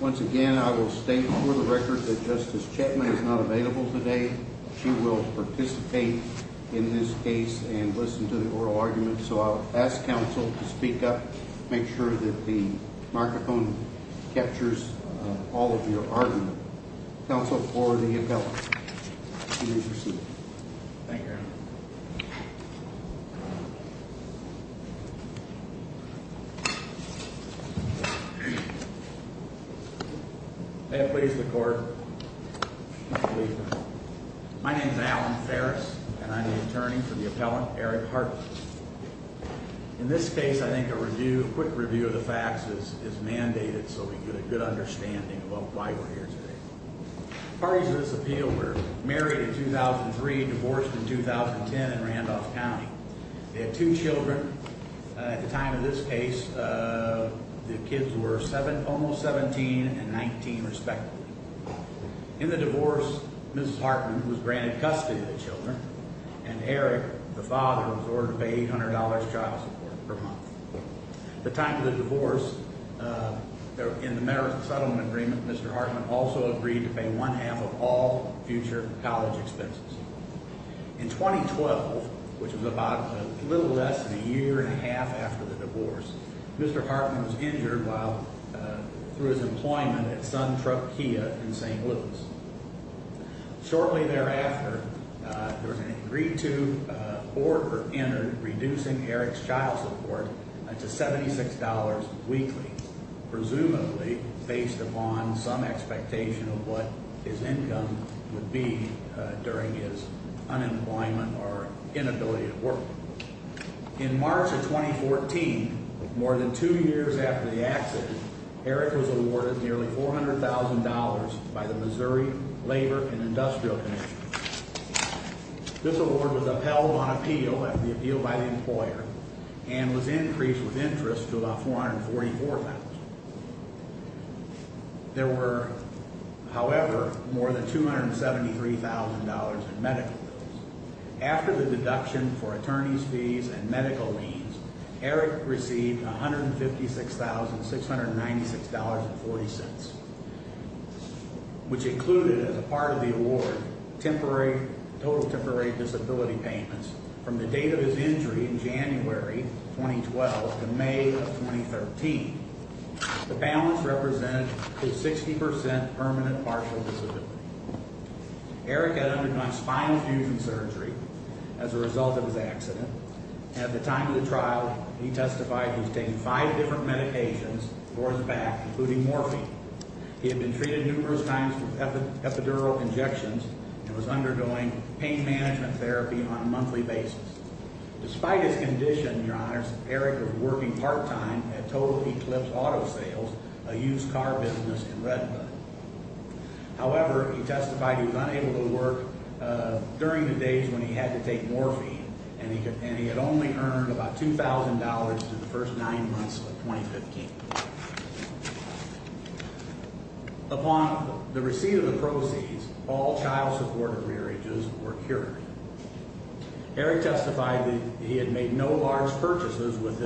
Once again, I will state for the record that Justice Chetman is not available today. She will participate in this case and listen to the oral argument. So I'll ask counsel to speak up, make sure that the microphone captures all of your argument. Counsel, forward the appellate. Thank you. May it please the court. My name is Alan Ferris, and I'm the attorney for the appellant, Eric Hartmann. In this case, I think a quick review of the facts is mandated so we get a good understanding of why we're here today. Parties of this appeal were married in 2003, divorced in 2010 in Randolph County. They had two children. At the time of this case, the kids were almost 17 and 19 respectively. In the divorce, Mrs. Hartmann was granted custody of the children, and Eric, the father, was ordered $800 child support per month. At the time of the divorce, in the marriage settlement agreement, Mr. Hartmann also agreed to pay one half of all future college expenses. In 2012, which was about a little less than a year and a half after the divorce, Mr. Hartmann was injured while through his employment at Sun Truck Kia in St. Louis. Shortly thereafter, they were going to agree to or enter reducing Eric's child support to $76 weekly, presumably based upon some expectation of what his income would be during his unemployment or inability to work. In March of 2014, more than two years after the accident, Eric was awarded nearly $400,000 by the Missouri Labor and Industrial Commission. This award was upheld on appeal after the appeal by the employer and was increased with interest to about $444,000. There were, however, more than $273,000 in medical bills. After the deduction for attorney's fees and medical liens, Eric received $156,696.40, which included, as a part of the award, total temporary disability payments from the date of his injury in January 2012 to May of 2013. The balance represented his 60% permanent partial disability. Eric had undergone spinal fusion surgery as a result of his accident. At the time of the trial, he testified he was taking five different medications for his back, including morphine. He had been treated numerous times with epidural injections and was undergoing pain management therapy on a monthly basis. Despite his condition, your honors, Eric was working part-time at Total Eclipse Auto Sales, a used car business in Redwood. However, he testified he was unable to work during the days when he had to take morphine, and he had only earned about $2,000 through the first nine months of 2015. Upon the receipt of the proceeds, all child support agreement were cured. Eric testified that he had made no large purchases with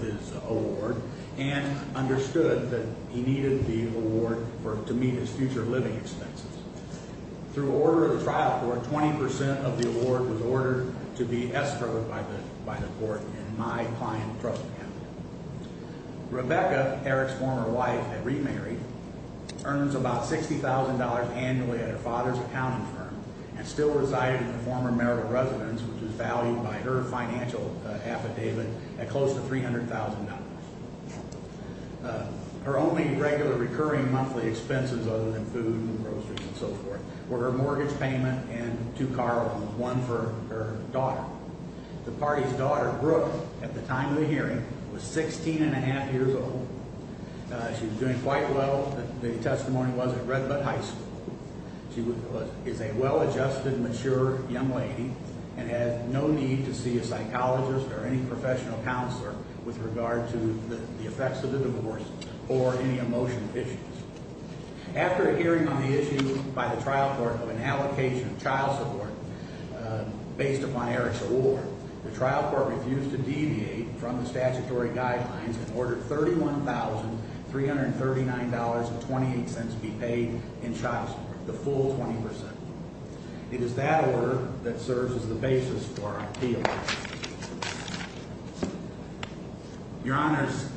his award and understood that he needed the award to meet his future living expenses. Through order of the trial court, 20% of the award was ordered to be escrowed by the court in my client's personal account. Rebecca, Eric's former wife and remarried, earns about $60,000 annually at her father's accounting firm and still resided in the former Merrill residence, which was valued by her financial affidavit at close to $300,000. Her only regular recurring monthly expenses, other than food and groceries and so forth, were her mortgage payment and two car loans, one for her daughter. The party's daughter, Brooke, at the time of the hearing, was 16 1⁄2 years old. She was doing quite well, the testimony was, at Redwood High School. She is a well-adjusted, mature young lady and has no need to see a psychologist or any professional counselor with regard to the effects of the divorce or any emotional issues. After a hearing on the issue by the trial court of an allocation of child support based upon Eric's award, the trial court refused to deviate from the statutory guidelines and ordered $31,339.28 be paid in child support, the full 20%. It is that order that serves as the basis for our appeal. Your Honors,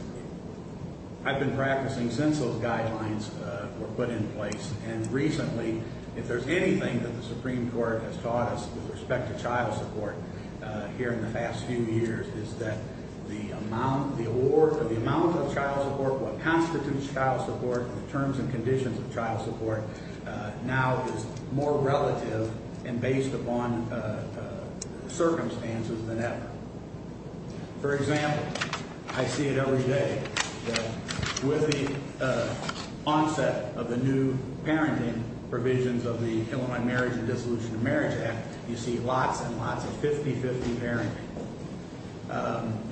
I've been practicing since those guidelines were put in place, and recently, if there's anything that the Supreme Court has taught us with respect to child support here in the past few years, is that the amount of child support, what constitutes child support, the terms and conditions of child support, now is more relative and based upon circumstances than ever. For example, I see it every day that with the onset of the new parenting provisions of the Illinois Marriage and Dissolution of Marriage Act, you see lots and lots of 50-50 parenting.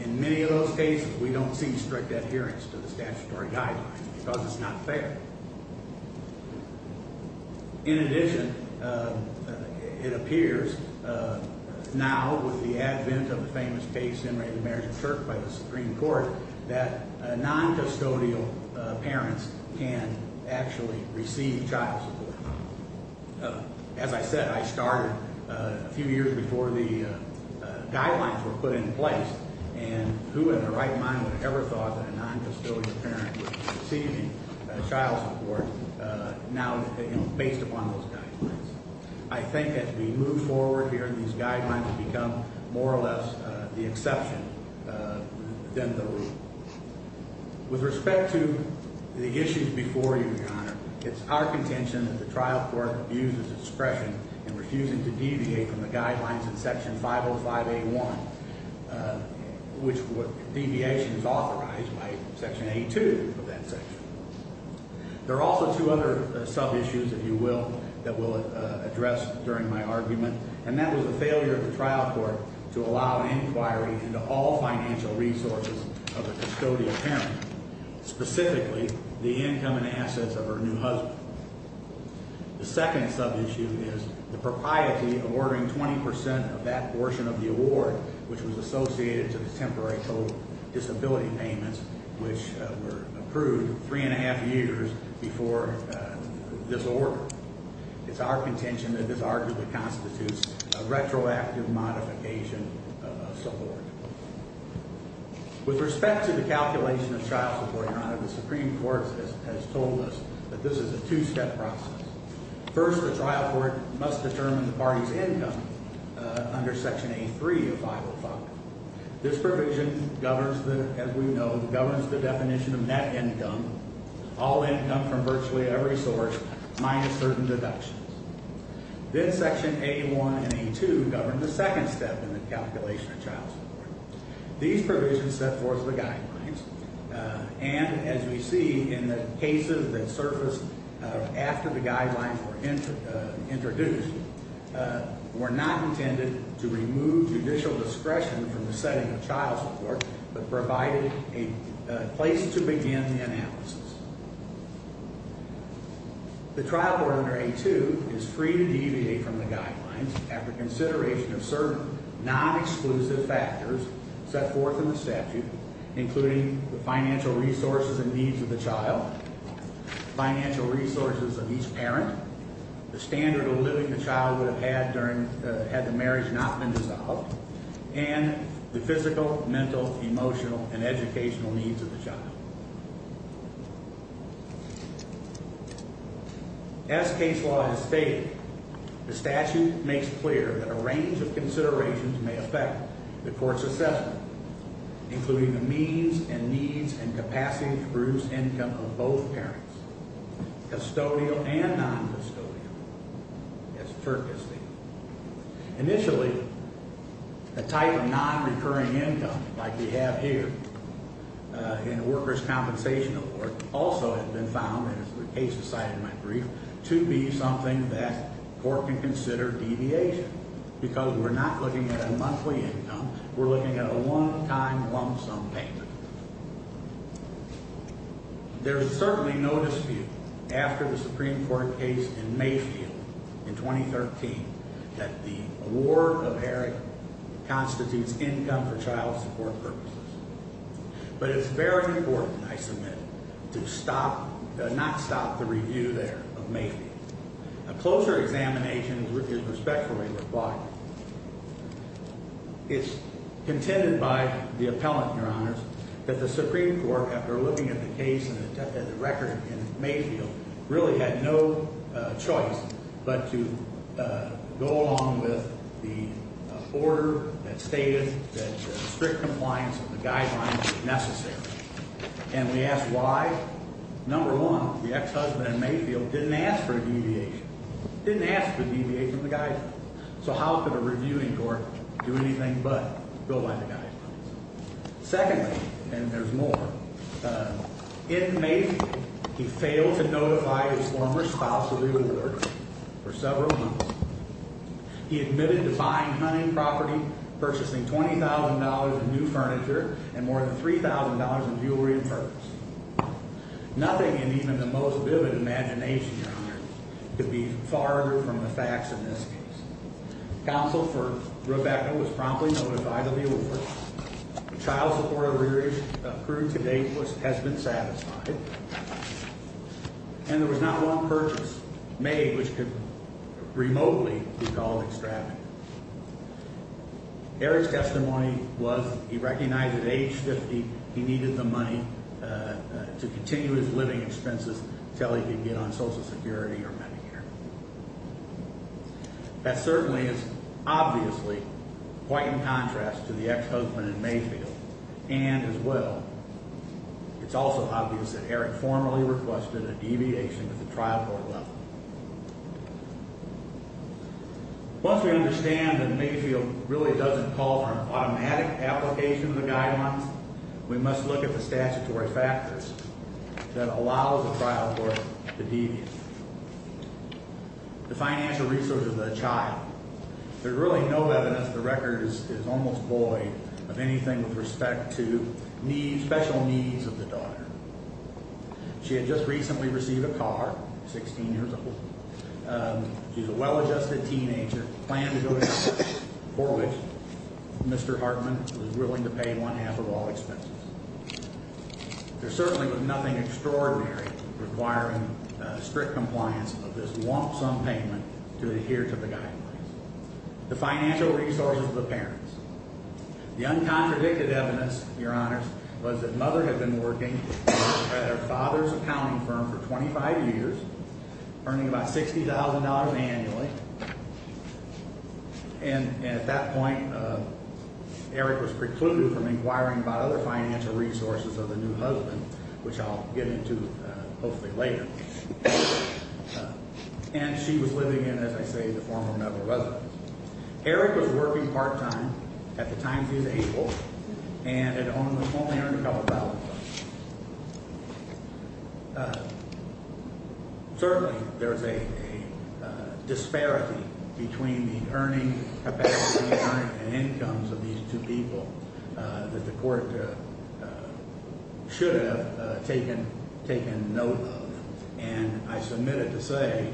In many of those cases, we don't see strict adherence to the statutory guidelines because it's not fair. In addition, it appears now with the advent of the famous case generated in marriage and church by the Supreme Court, that noncustodial parents can actually receive child support. As I said, I started a few years before the guidelines were put in place, and who in their right mind would have ever thought that a noncustodial parent would be receiving child support now based upon those guidelines? I think as we move forward here, these guidelines have become more or less the exception than the rule. With respect to the issues before you, Your Honor, it's our contention that the trial court abuses its discretion in refusing to deviate from the guidelines in Section 505A1, which deviation is authorized by Section A2 of that section. There are also two other sub-issues, if you will, that we'll address during my argument, and that was the failure of the trial court to allow inquiry into all financial resources of a custodial parent, specifically the income and assets of her new husband. The second sub-issue is the propriety of ordering 20% of that portion of the award, which was associated to the temporary total disability payments, which were approved three and a half years before this order. It's our contention that this arguably constitutes a retroactive modification of a support. With respect to the calculation of child support, Your Honor, the Supreme Court has told us that this is a two-step process. First, the trial court must determine the party's income under Section A3 of 505. This provision, as we know, governs the definition of net income, all income from virtually every source minus certain deductions. Then Section A1 and A2 govern the second step in the calculation of child support. These provisions set forth the guidelines, and as we see in the cases that surfaced after the guidelines were introduced, were not intended to remove judicial discretion from the setting of child support, but provided a place to begin the analysis. The trial order under A2 is free to deviate from the guidelines after consideration of certain non-exclusive factors set forth in the statute, including the financial resources and needs of the child, financial resources of each parent, the standard of living the child would have had had the marriage not been dissolved, and the physical, mental, emotional, and educational needs of the child. As case law has stated, the statute makes clear that a range of considerations may affect the court's assessment, including the means and needs and capacity to produce income of both parents, custodial and non-custodial, as the court has stated. Initially, a type of non-recurring income, like we have here in a workers' compensation award, also has been found, as the case cited in my brief, to be something that court can consider deviation, because we're not looking at a monthly income, we're looking at a one-time lump sum payment. There is certainly no dispute, after the Supreme Court case in Mayfield in 2013, that the award of Eric constitutes income for child support purposes. But it's very important, I submit, to not stop the review there of Mayfield. A closer examination is respectfully required. It's contended by the appellant, Your Honors, that the Supreme Court, after looking at the case and the record in Mayfield, really had no choice but to go along with the order that stated that strict compliance of the guidelines was necessary. And we asked why. Number one, the ex-husband in Mayfield didn't ask for a deviation. So how could a reviewing court do anything but go by the guidelines? Secondly, and there's more, in Mayfield, he failed to notify his former spouse of the award for several months. He admitted to buying hunting property, purchasing $20,000 in new furniture, and more than $3,000 in jewelry and furs. Nothing in even the most vivid imagination, Your Honors, could be farther from the facts in this case. Counsel for Rebecca was promptly notified of the award. Child support arrears accrued to date has been satisfied. And there was not one purchase made which could remotely be called extravagant. Eric's testimony was he recognized at age 50 he needed the money to continue his living expenses until he could get on Social Security or Medicare. That certainly is obviously quite in contrast to the ex-husband in Mayfield. And, as well, it's also obvious that Eric formally requested a deviation at the trial court level. Once we understand that Mayfield really doesn't call for an automatic application of the guidelines, we must look at the statutory factors that allow the trial court to deviate. The financial resources of the child. There's really no evidence the record is almost void of anything with respect to special needs of the daughter. She had just recently received a car, 16 years old. She's a well-adjusted teenager, planned to go to college, for which Mr. Hartman was willing to pay one half of all expenses. There certainly was nothing extraordinary requiring strict compliance of this want-some payment to adhere to the guidelines. The financial resources of the parents. The uncontradicted evidence, Your Honors, was that Mother had been working at her father's accounting firm for 25 years, earning about $60,000 annually. And at that point, Eric was precluded from inquiring about other financial resources of the new husband, which I'll get into hopefully later. And she was living in, as I say, the form of another residence. Eric was working part-time at the time he was able, and had only earned a couple thousand dollars. Certainly, there's a disparity between the earning capacity and incomes of these two people that the court should have taken note of. And I submit it to say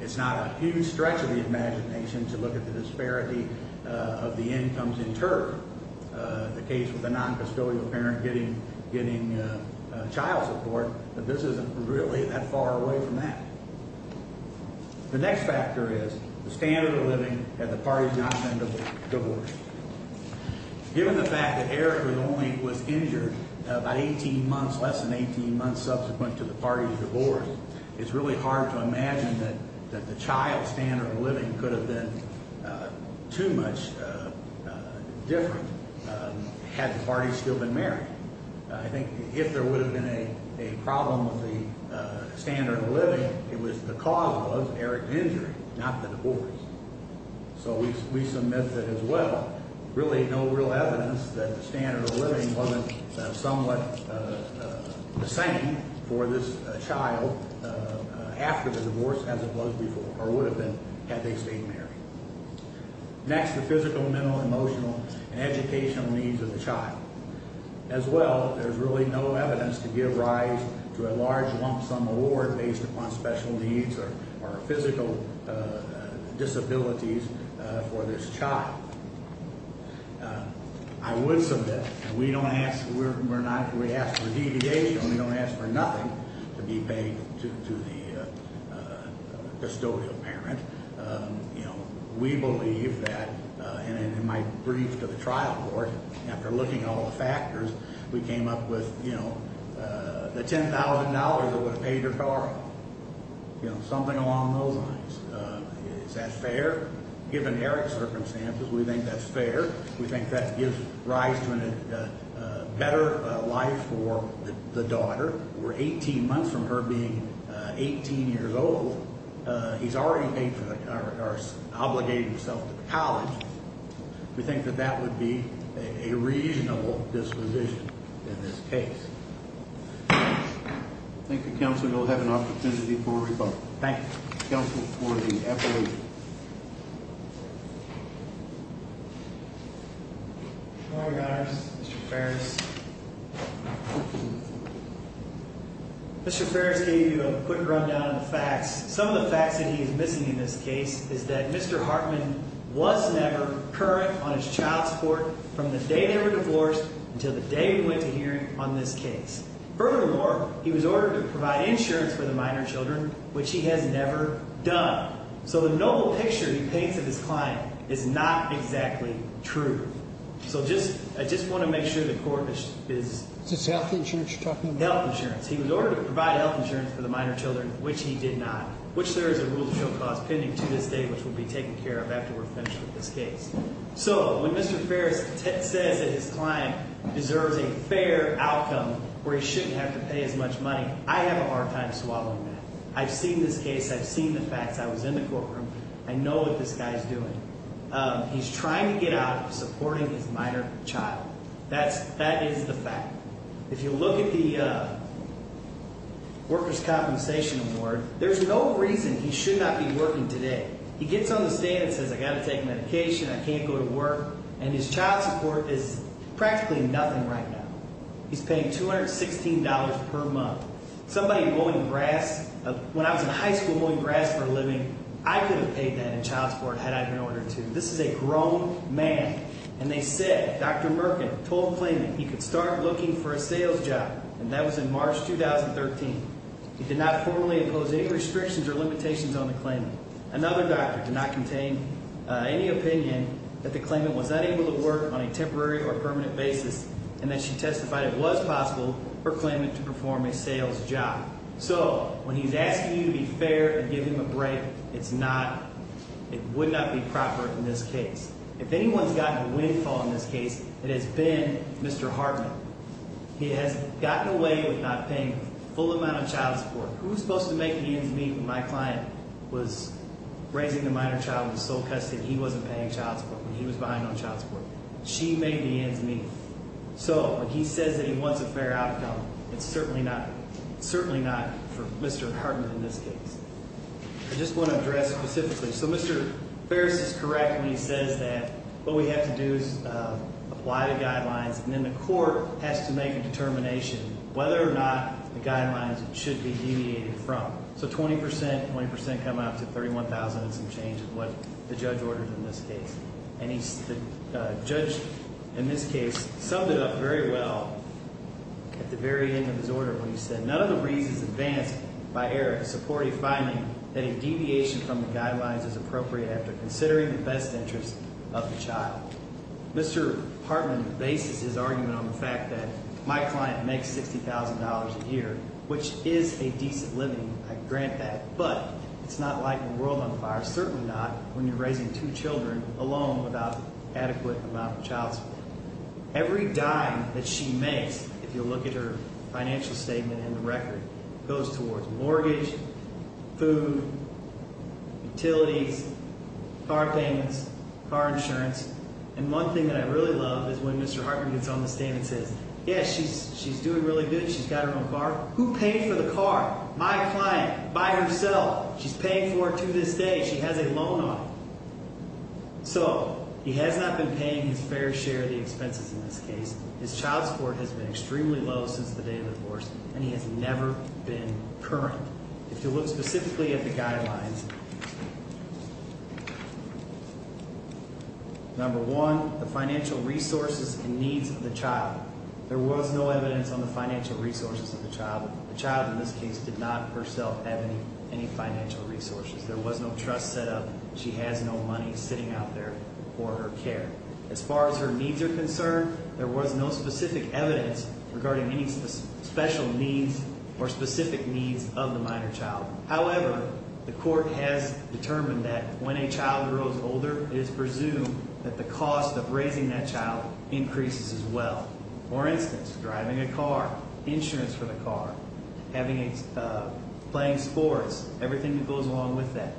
it's not a huge stretch of the imagination to look at the disparity of the incomes in turf. The case with the noncustodial parent getting child support, this isn't really that far away from that. The next factor is the standard of living had the parties not been divorced. Given the fact that Eric was only injured about 18 months, less than 18 months subsequent to the parties' divorce, it's really hard to imagine that the child's standard of living could have been too much different had the parties still been married. I think if there would have been a problem with the standard of living, it was the cause was Eric's injury, not the divorce. So we submit that, as well, really no real evidence that the standard of living wasn't somewhat the same for this child after the divorce as it was before, or would have been, had they stayed married. Next, the physical, mental, emotional, and educational needs of the child. As well, there's really no evidence to give rise to a large lump sum award based upon special needs or physical disabilities for this child. I would submit, and we don't ask for deviation, we don't ask for nothing to be paid to the custodial parent. We believe that, and in my brief to the trial court, after looking at all the factors, we came up with the $10,000 that would have paid her car, something along those lines. Is that fair? Given Eric's circumstances, we think that's fair. We think that gives rise to a better life for the daughter. We're 18 months from her being 18 years old. He's already paid for, or obligated himself to the college. We think that that would be a reasonable disposition in this case. Thank you, counsel. You'll have an opportunity for rebuttal. Thank you. Counsel for the appellation. Good morning, guys. Mr. Ferris. Mr. Ferris gave you a quick rundown of the facts. Some of the facts that he is missing in this case is that Mr. Hartman was never current on his child support from the day they were divorced until the day we went to hearing on this case. Furthermore, he was ordered to provide insurance for the minor children, which he has never done. So the noble picture he paints of his client is not exactly true. So I just want to make sure the court is… Is this health insurance you're talking about? Health insurance. He was ordered to provide health insurance for the minor children, which he did not, which there is a rule of show cause pending to this day, which will be taken care of after we're finished with this case. So when Mr. Ferris says that his client deserves a fair outcome where he shouldn't have to pay as much money, I have a hard time swallowing that. I've seen this case. I've seen the facts. I was in the courtroom. I know what this guy is doing. He's trying to get out of supporting his minor child. That is the fact. If you look at the worker's compensation award, there's no reason he should not be working today. He gets on the stand and says I've got to take medication, I can't go to work, and his child support is practically nothing right now. He's paying $216 per month. Somebody mowing grass – when I was in high school mowing grass for a living, I could have paid that in child support had I been ordered to. This is a grown man. And they said Dr. Merkin told the claimant he could start looking for a sales job, and that was in March 2013. He did not formally impose any restrictions or limitations on the claimant. Another doctor did not contain any opinion that the claimant was not able to work on a temporary or permanent basis, and that she testified it was possible for the claimant to perform a sales job. So when he's asking you to be fair and give him a break, it's not – it would not be proper in this case. If anyone's gotten windfall in this case, it has been Mr. Hartman. He has gotten away with not paying full amount of child support. Who was supposed to make the ends meet when my client was raising a minor child and was sole custody and he wasn't paying child support when he was behind on child support? She made the ends meet. So when he says that he wants a fair outcome, it's certainly not for Mr. Hartman in this case. I just want to address specifically. So Mr. Ferris is correct when he says that what we have to do is apply the guidelines, and then the court has to make a determination whether or not the guidelines should be deviated from. So 20 percent, 20 percent come out to $31,000 and some change is what the judge ordered in this case. And the judge in this case summed it up very well at the very end of his order when he said, none of the reasons advanced by Eric support a finding that a deviation from the guidelines is appropriate after considering the best interests of the child. Mr. Hartman bases his argument on the fact that my client makes $60,000 a year, which is a decent living. I grant that. But it's not like the world on fire. Certainly not when you're raising two children alone without adequate amount of child support. Every dime that she makes, if you look at her financial statement and the record, goes towards mortgage, food, utilities, car payments, car insurance. And one thing that I really love is when Mr. Hartman gets on the stand and says, yeah, she's doing really good. She's got her own car. Who paid for the car? My client, by herself. She's paying for it to this day. She has a loan on it. So he has not been paying his fair share of the expenses in this case. His child support has been extremely low since the day of the divorce, and he has never been current. If you look specifically at the guidelines, number one, the financial resources and needs of the child. There was no evidence on the financial resources of the child. The child, in this case, did not herself have any financial resources. There was no trust set up. She has no money sitting out there for her care. As far as her needs are concerned, there was no specific evidence regarding any special needs or specific needs of the minor child. However, the court has determined that when a child grows older, it is presumed that the cost of raising that child increases as well. For instance, driving a car, insurance for the car, playing sports, everything that goes along with that.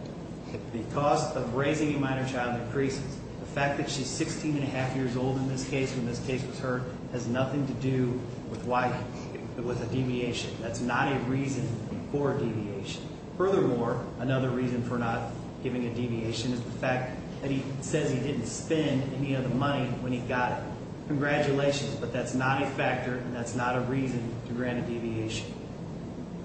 The cost of raising a minor child increases. The fact that she's 16 and a half years old in this case, when this case was heard, has nothing to do with a deviation. That's not a reason for a deviation. Furthermore, another reason for not giving a deviation is the fact that he says he didn't spend any of the money when he got it. Congratulations, but that's not a factor and that's not a reason to grant a deviation.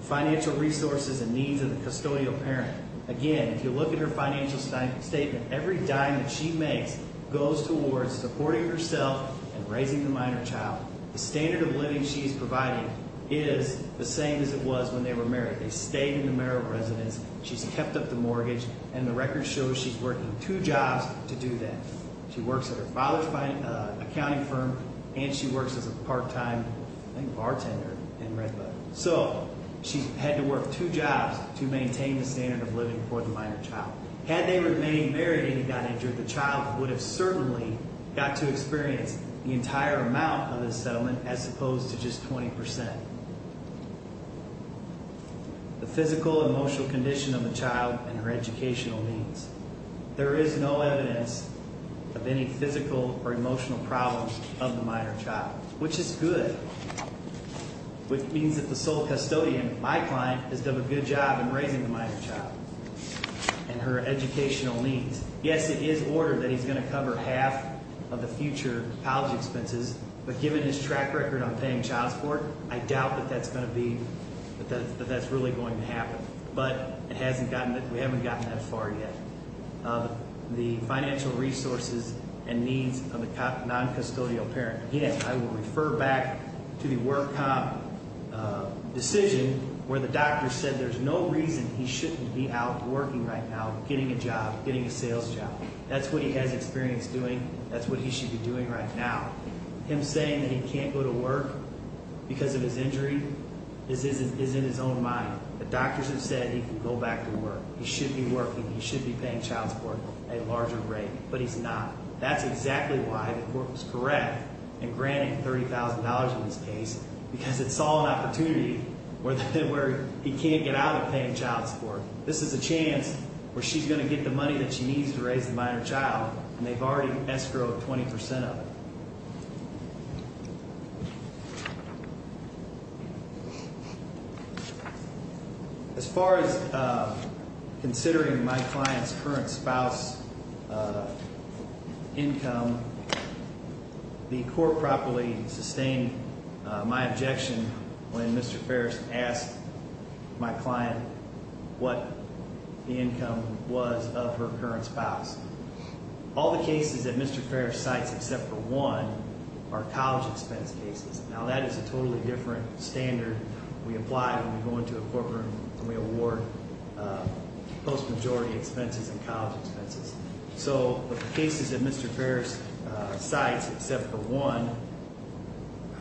Financial resources and needs of the custodial parent. Again, if you look at her financial statement, every dime that she makes goes towards supporting herself and raising the minor child. The standard of living she is providing is the same as it was when they were married. They stayed in the marital residence. She's kept up the mortgage and the record shows she's working two jobs to do that. She works at her father's accounting firm and she works as a part-time bartender in Redbud. So, she's had to work two jobs to maintain the standard of living for the minor child. Had they remained married and he got injured, the child would have certainly got to experience the entire amount of the settlement as opposed to just 20%. The physical and emotional condition of the child and her educational needs. There is no evidence of any physical or emotional problems of the minor child, which is good. Which means that the sole custodian, my client, has done a good job in raising the minor child and her educational needs. Yes, it is ordered that he's going to cover half of the future college expenses, but given his track record on paying child support, I doubt that that's really going to happen. But, we haven't gotten that far yet. The financial resources and needs of the non-custodial parent. I will refer back to the WordComp decision where the doctor said there's no reason he shouldn't be out working right now, getting a job, getting a sales job. That's what he has experience doing. That's what he should be doing right now. Him saying that he can't go to work because of his injury is in his own mind. The doctors have said he can go back to work. He should be working. He should be paying child support at a larger rate, but he's not. That's exactly why the court was correct in granting $30,000 in this case, because it saw an opportunity where he can't get out of paying child support. This is a chance where she's going to get the money that she needs to raise the minor child, and they've already escrowed 20% of it. As far as considering my client's current spouse income, the court properly sustained my objection when Mr. Ferris asked my client what the income was of her current spouse. All the cases that Mr. Ferris cites except for one are college expense cases. Now, that is a totally different standard we apply when we go into a courtroom and we award post-majority expenses and college expenses. The cases that Mr. Ferris cites except for one,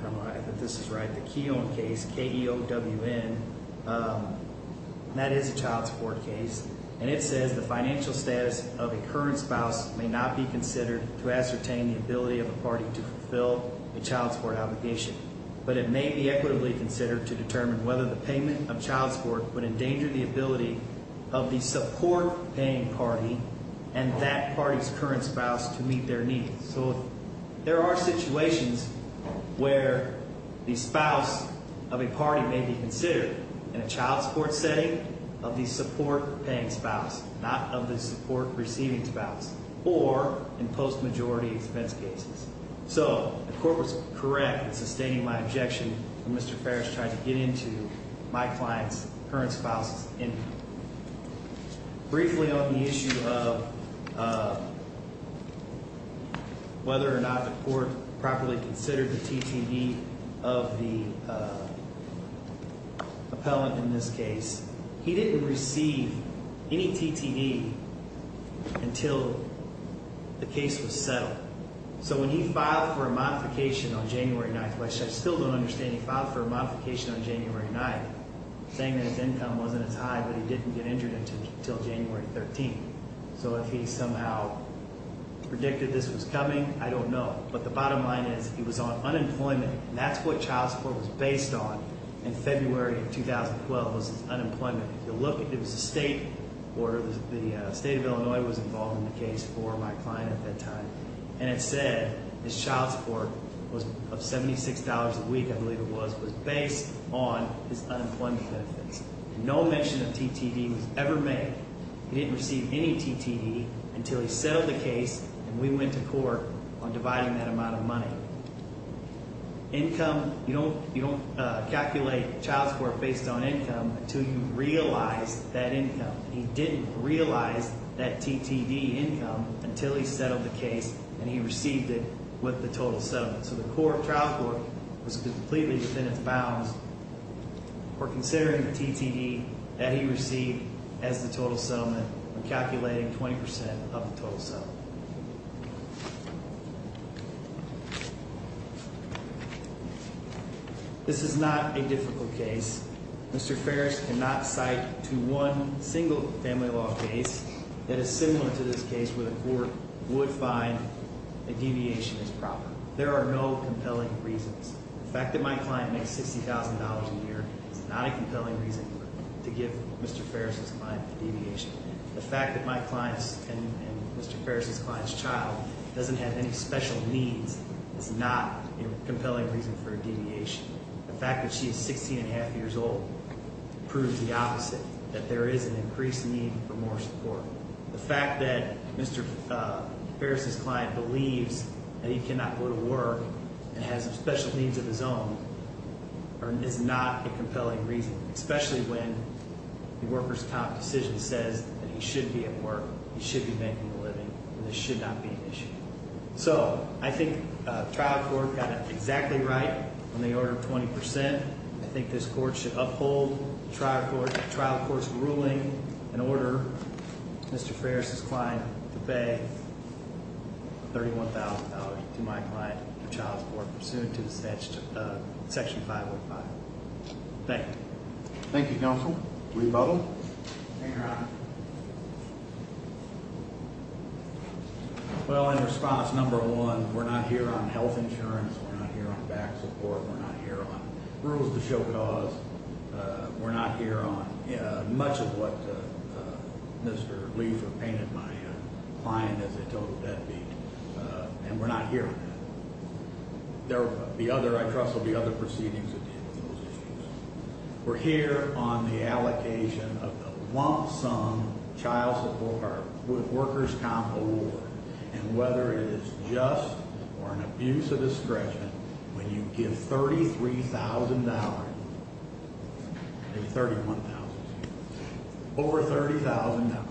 I don't know if this is right, the Keown case, K-E-O-W-N, that is a child support case. It says the financial status of a current spouse may not be considered to ascertain the ability of a party to fulfill a child support obligation, but it may be equitably considered to determine whether the payment of child support would endanger the ability of the support-paying party and that party's current spouse to meet their needs. So there are situations where the spouse of a party may be considered in a child support setting of the support-paying spouse, not of the support-receiving spouse, or in post-majority expense cases. So the court was correct in sustaining my objection when Mr. Ferris tried to get into my client's current spouse's income. Briefly on the issue of whether or not the court properly considered the TTE of the appellant in this case, he didn't receive any TTE until the case was settled. So when he filed for a modification on January 9th, which I still don't understand, he filed for a modification on January 9th, saying that his income wasn't as high, but he didn't get injured until January 13th. So if he somehow predicted this was coming, I don't know. But the bottom line is, he was on unemployment, and that's what child support was based on in February of 2012, was his unemployment. The state of Illinois was involved in the case for my client at that time, and it said his child support of $76 a week, I believe it was, was based on his unemployment benefits. No mention of TTE was ever made. He didn't receive any TTE until he settled the case, and we went to court on dividing that amount of money. Income, you don't calculate child support based on income until you realize that income. He didn't realize that TTE income until he settled the case and he received it with the total settlement. So the trial court was completely within its bounds for considering the TTE that he received as the total settlement and calculating 20% of the total settlement. This is not a difficult case. Mr. Ferris cannot cite to one single family law case that is similar to this case where the court would find the deviation is proper. There are no compelling reasons. The fact that my client makes $60,000 a year is not a compelling reason to give Mr. Ferris' client the deviation. The fact that my client's and Mr. Ferris' client's child doesn't have any special needs is not a compelling reason for a deviation. The fact that she is 16 and a half years old proves the opposite, that there is an increased need for more support. The fact that Mr. Ferris' client believes that he cannot go to work and has special needs of his own is not a compelling reason, especially when the worker's top decision says that he should be at work, he should be making a living, and this should not be an issue. So I think the trial court got it exactly right on the order of 20%. I think this court should uphold the trial court's ruling and order Mr. Ferris' client to pay $31,000 to my client for child support pursuant to Section 505. Thank you. Thank you, Counsel. We vote. Thank you, Your Honor. Well, in response, number one, we're not here on health insurance. We're not here on back support. We're not here on rules to show cause. We're not here on much of what Mr. Liefer painted my client as a total deadbeat, and we're not here on that. There will be other – I trust there will be other proceedings that deal with those issues. We're here on the allocation of a lump sum child support with worker's comp award, and whether it is just or an abuse of discretion, when you give $33,000 – $31,000 – over $30,000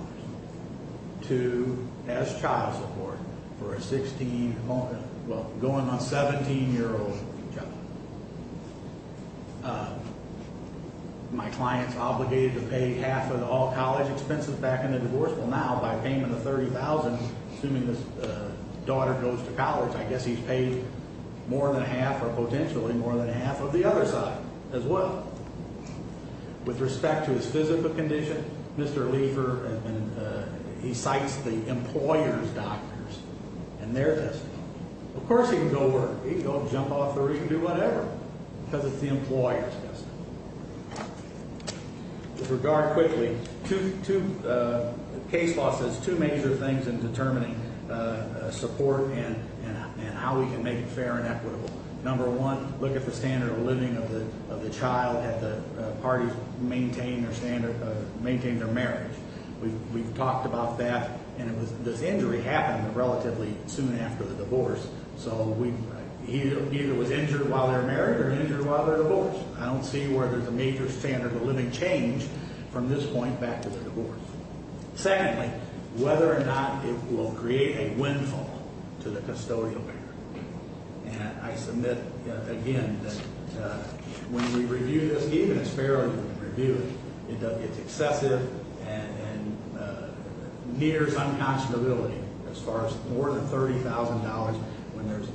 to – as child support for a 16 – well, going on 17-year-old child. My client's obligated to pay half of all college expenses back in the divorce. Now, by payment of $30,000, assuming this daughter goes to college, I guess he's paid more than half or potentially more than half of the other side as well. With respect to his physical condition, Mr. Liefer – he cites the employer's doctors and their testimony. Of course he can go work. He can go jump off the roof and do whatever because it's the employer's testimony. With regard quickly, two – case law says two major things in determining support and how we can make it fair and equitable. Number one, look at the standard of living of the child at the parties maintain their standard – maintain their marriage. We've talked about that, and it was – this injury happened relatively soon after the divorce. So we – he either was injured while they were married or injured while they were divorced. I don't see where there's a major standard of living change from this point back to the divorce. Secondly, whether or not it will create a windfall to the custodial payer. And I submit again that when we review this, even as fairly as we can review it, it's excessive and nears unconscionability as far as more than $30,000 when there's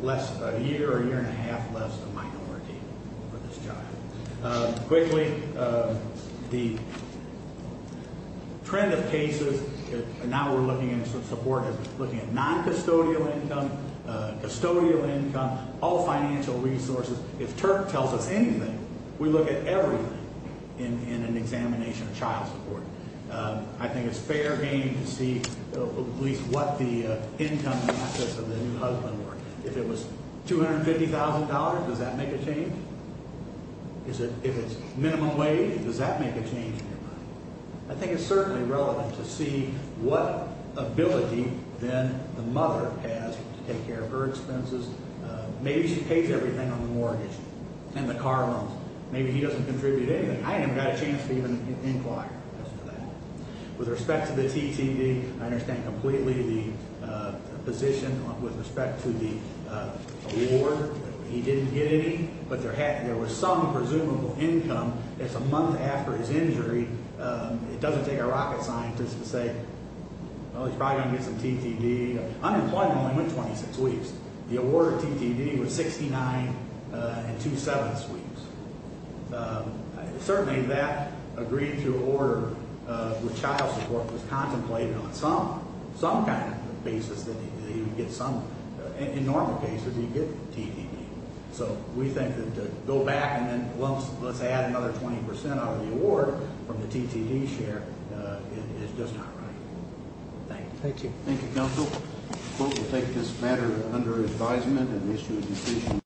less – a year, a year and a half less than minority. Quickly, the trend of cases, and now we're looking at support, looking at non-custodial income, custodial income, all financial resources. If Turk tells us anything, we look at everything in an examination of child support. I think it's fair game to see at least what the income and assets of the new husband were. If it was $250,000, does that make a change? If it's minimum wage, does that make a change in your money? I think it's certainly relevant to see what ability then the mother has to take care of her expenses. Maybe she pays everything on the mortgage and the car loans. Maybe he doesn't contribute anything. I haven't got a chance to even inquire as to that. With respect to the TTD, I understand completely the position with respect to the award. He didn't get any, but there was some presumable income. It's a month after his injury. It doesn't take a rocket scientist to say, well, he's probably going to get some TTD. Unemployment only went 26 weeks. The award of TTD was 69 and two-sevenths weeks. Certainly, that agreed to order with child support was contemplated on some kind of basis that he would get some. In normal cases, he'd get TTD. So we think that to go back and then, well, let's add another 20% out of the award from the TTD share is just not right. Thank you. Thank you, Counsel. We'll take this matter under advisement and issue a decision.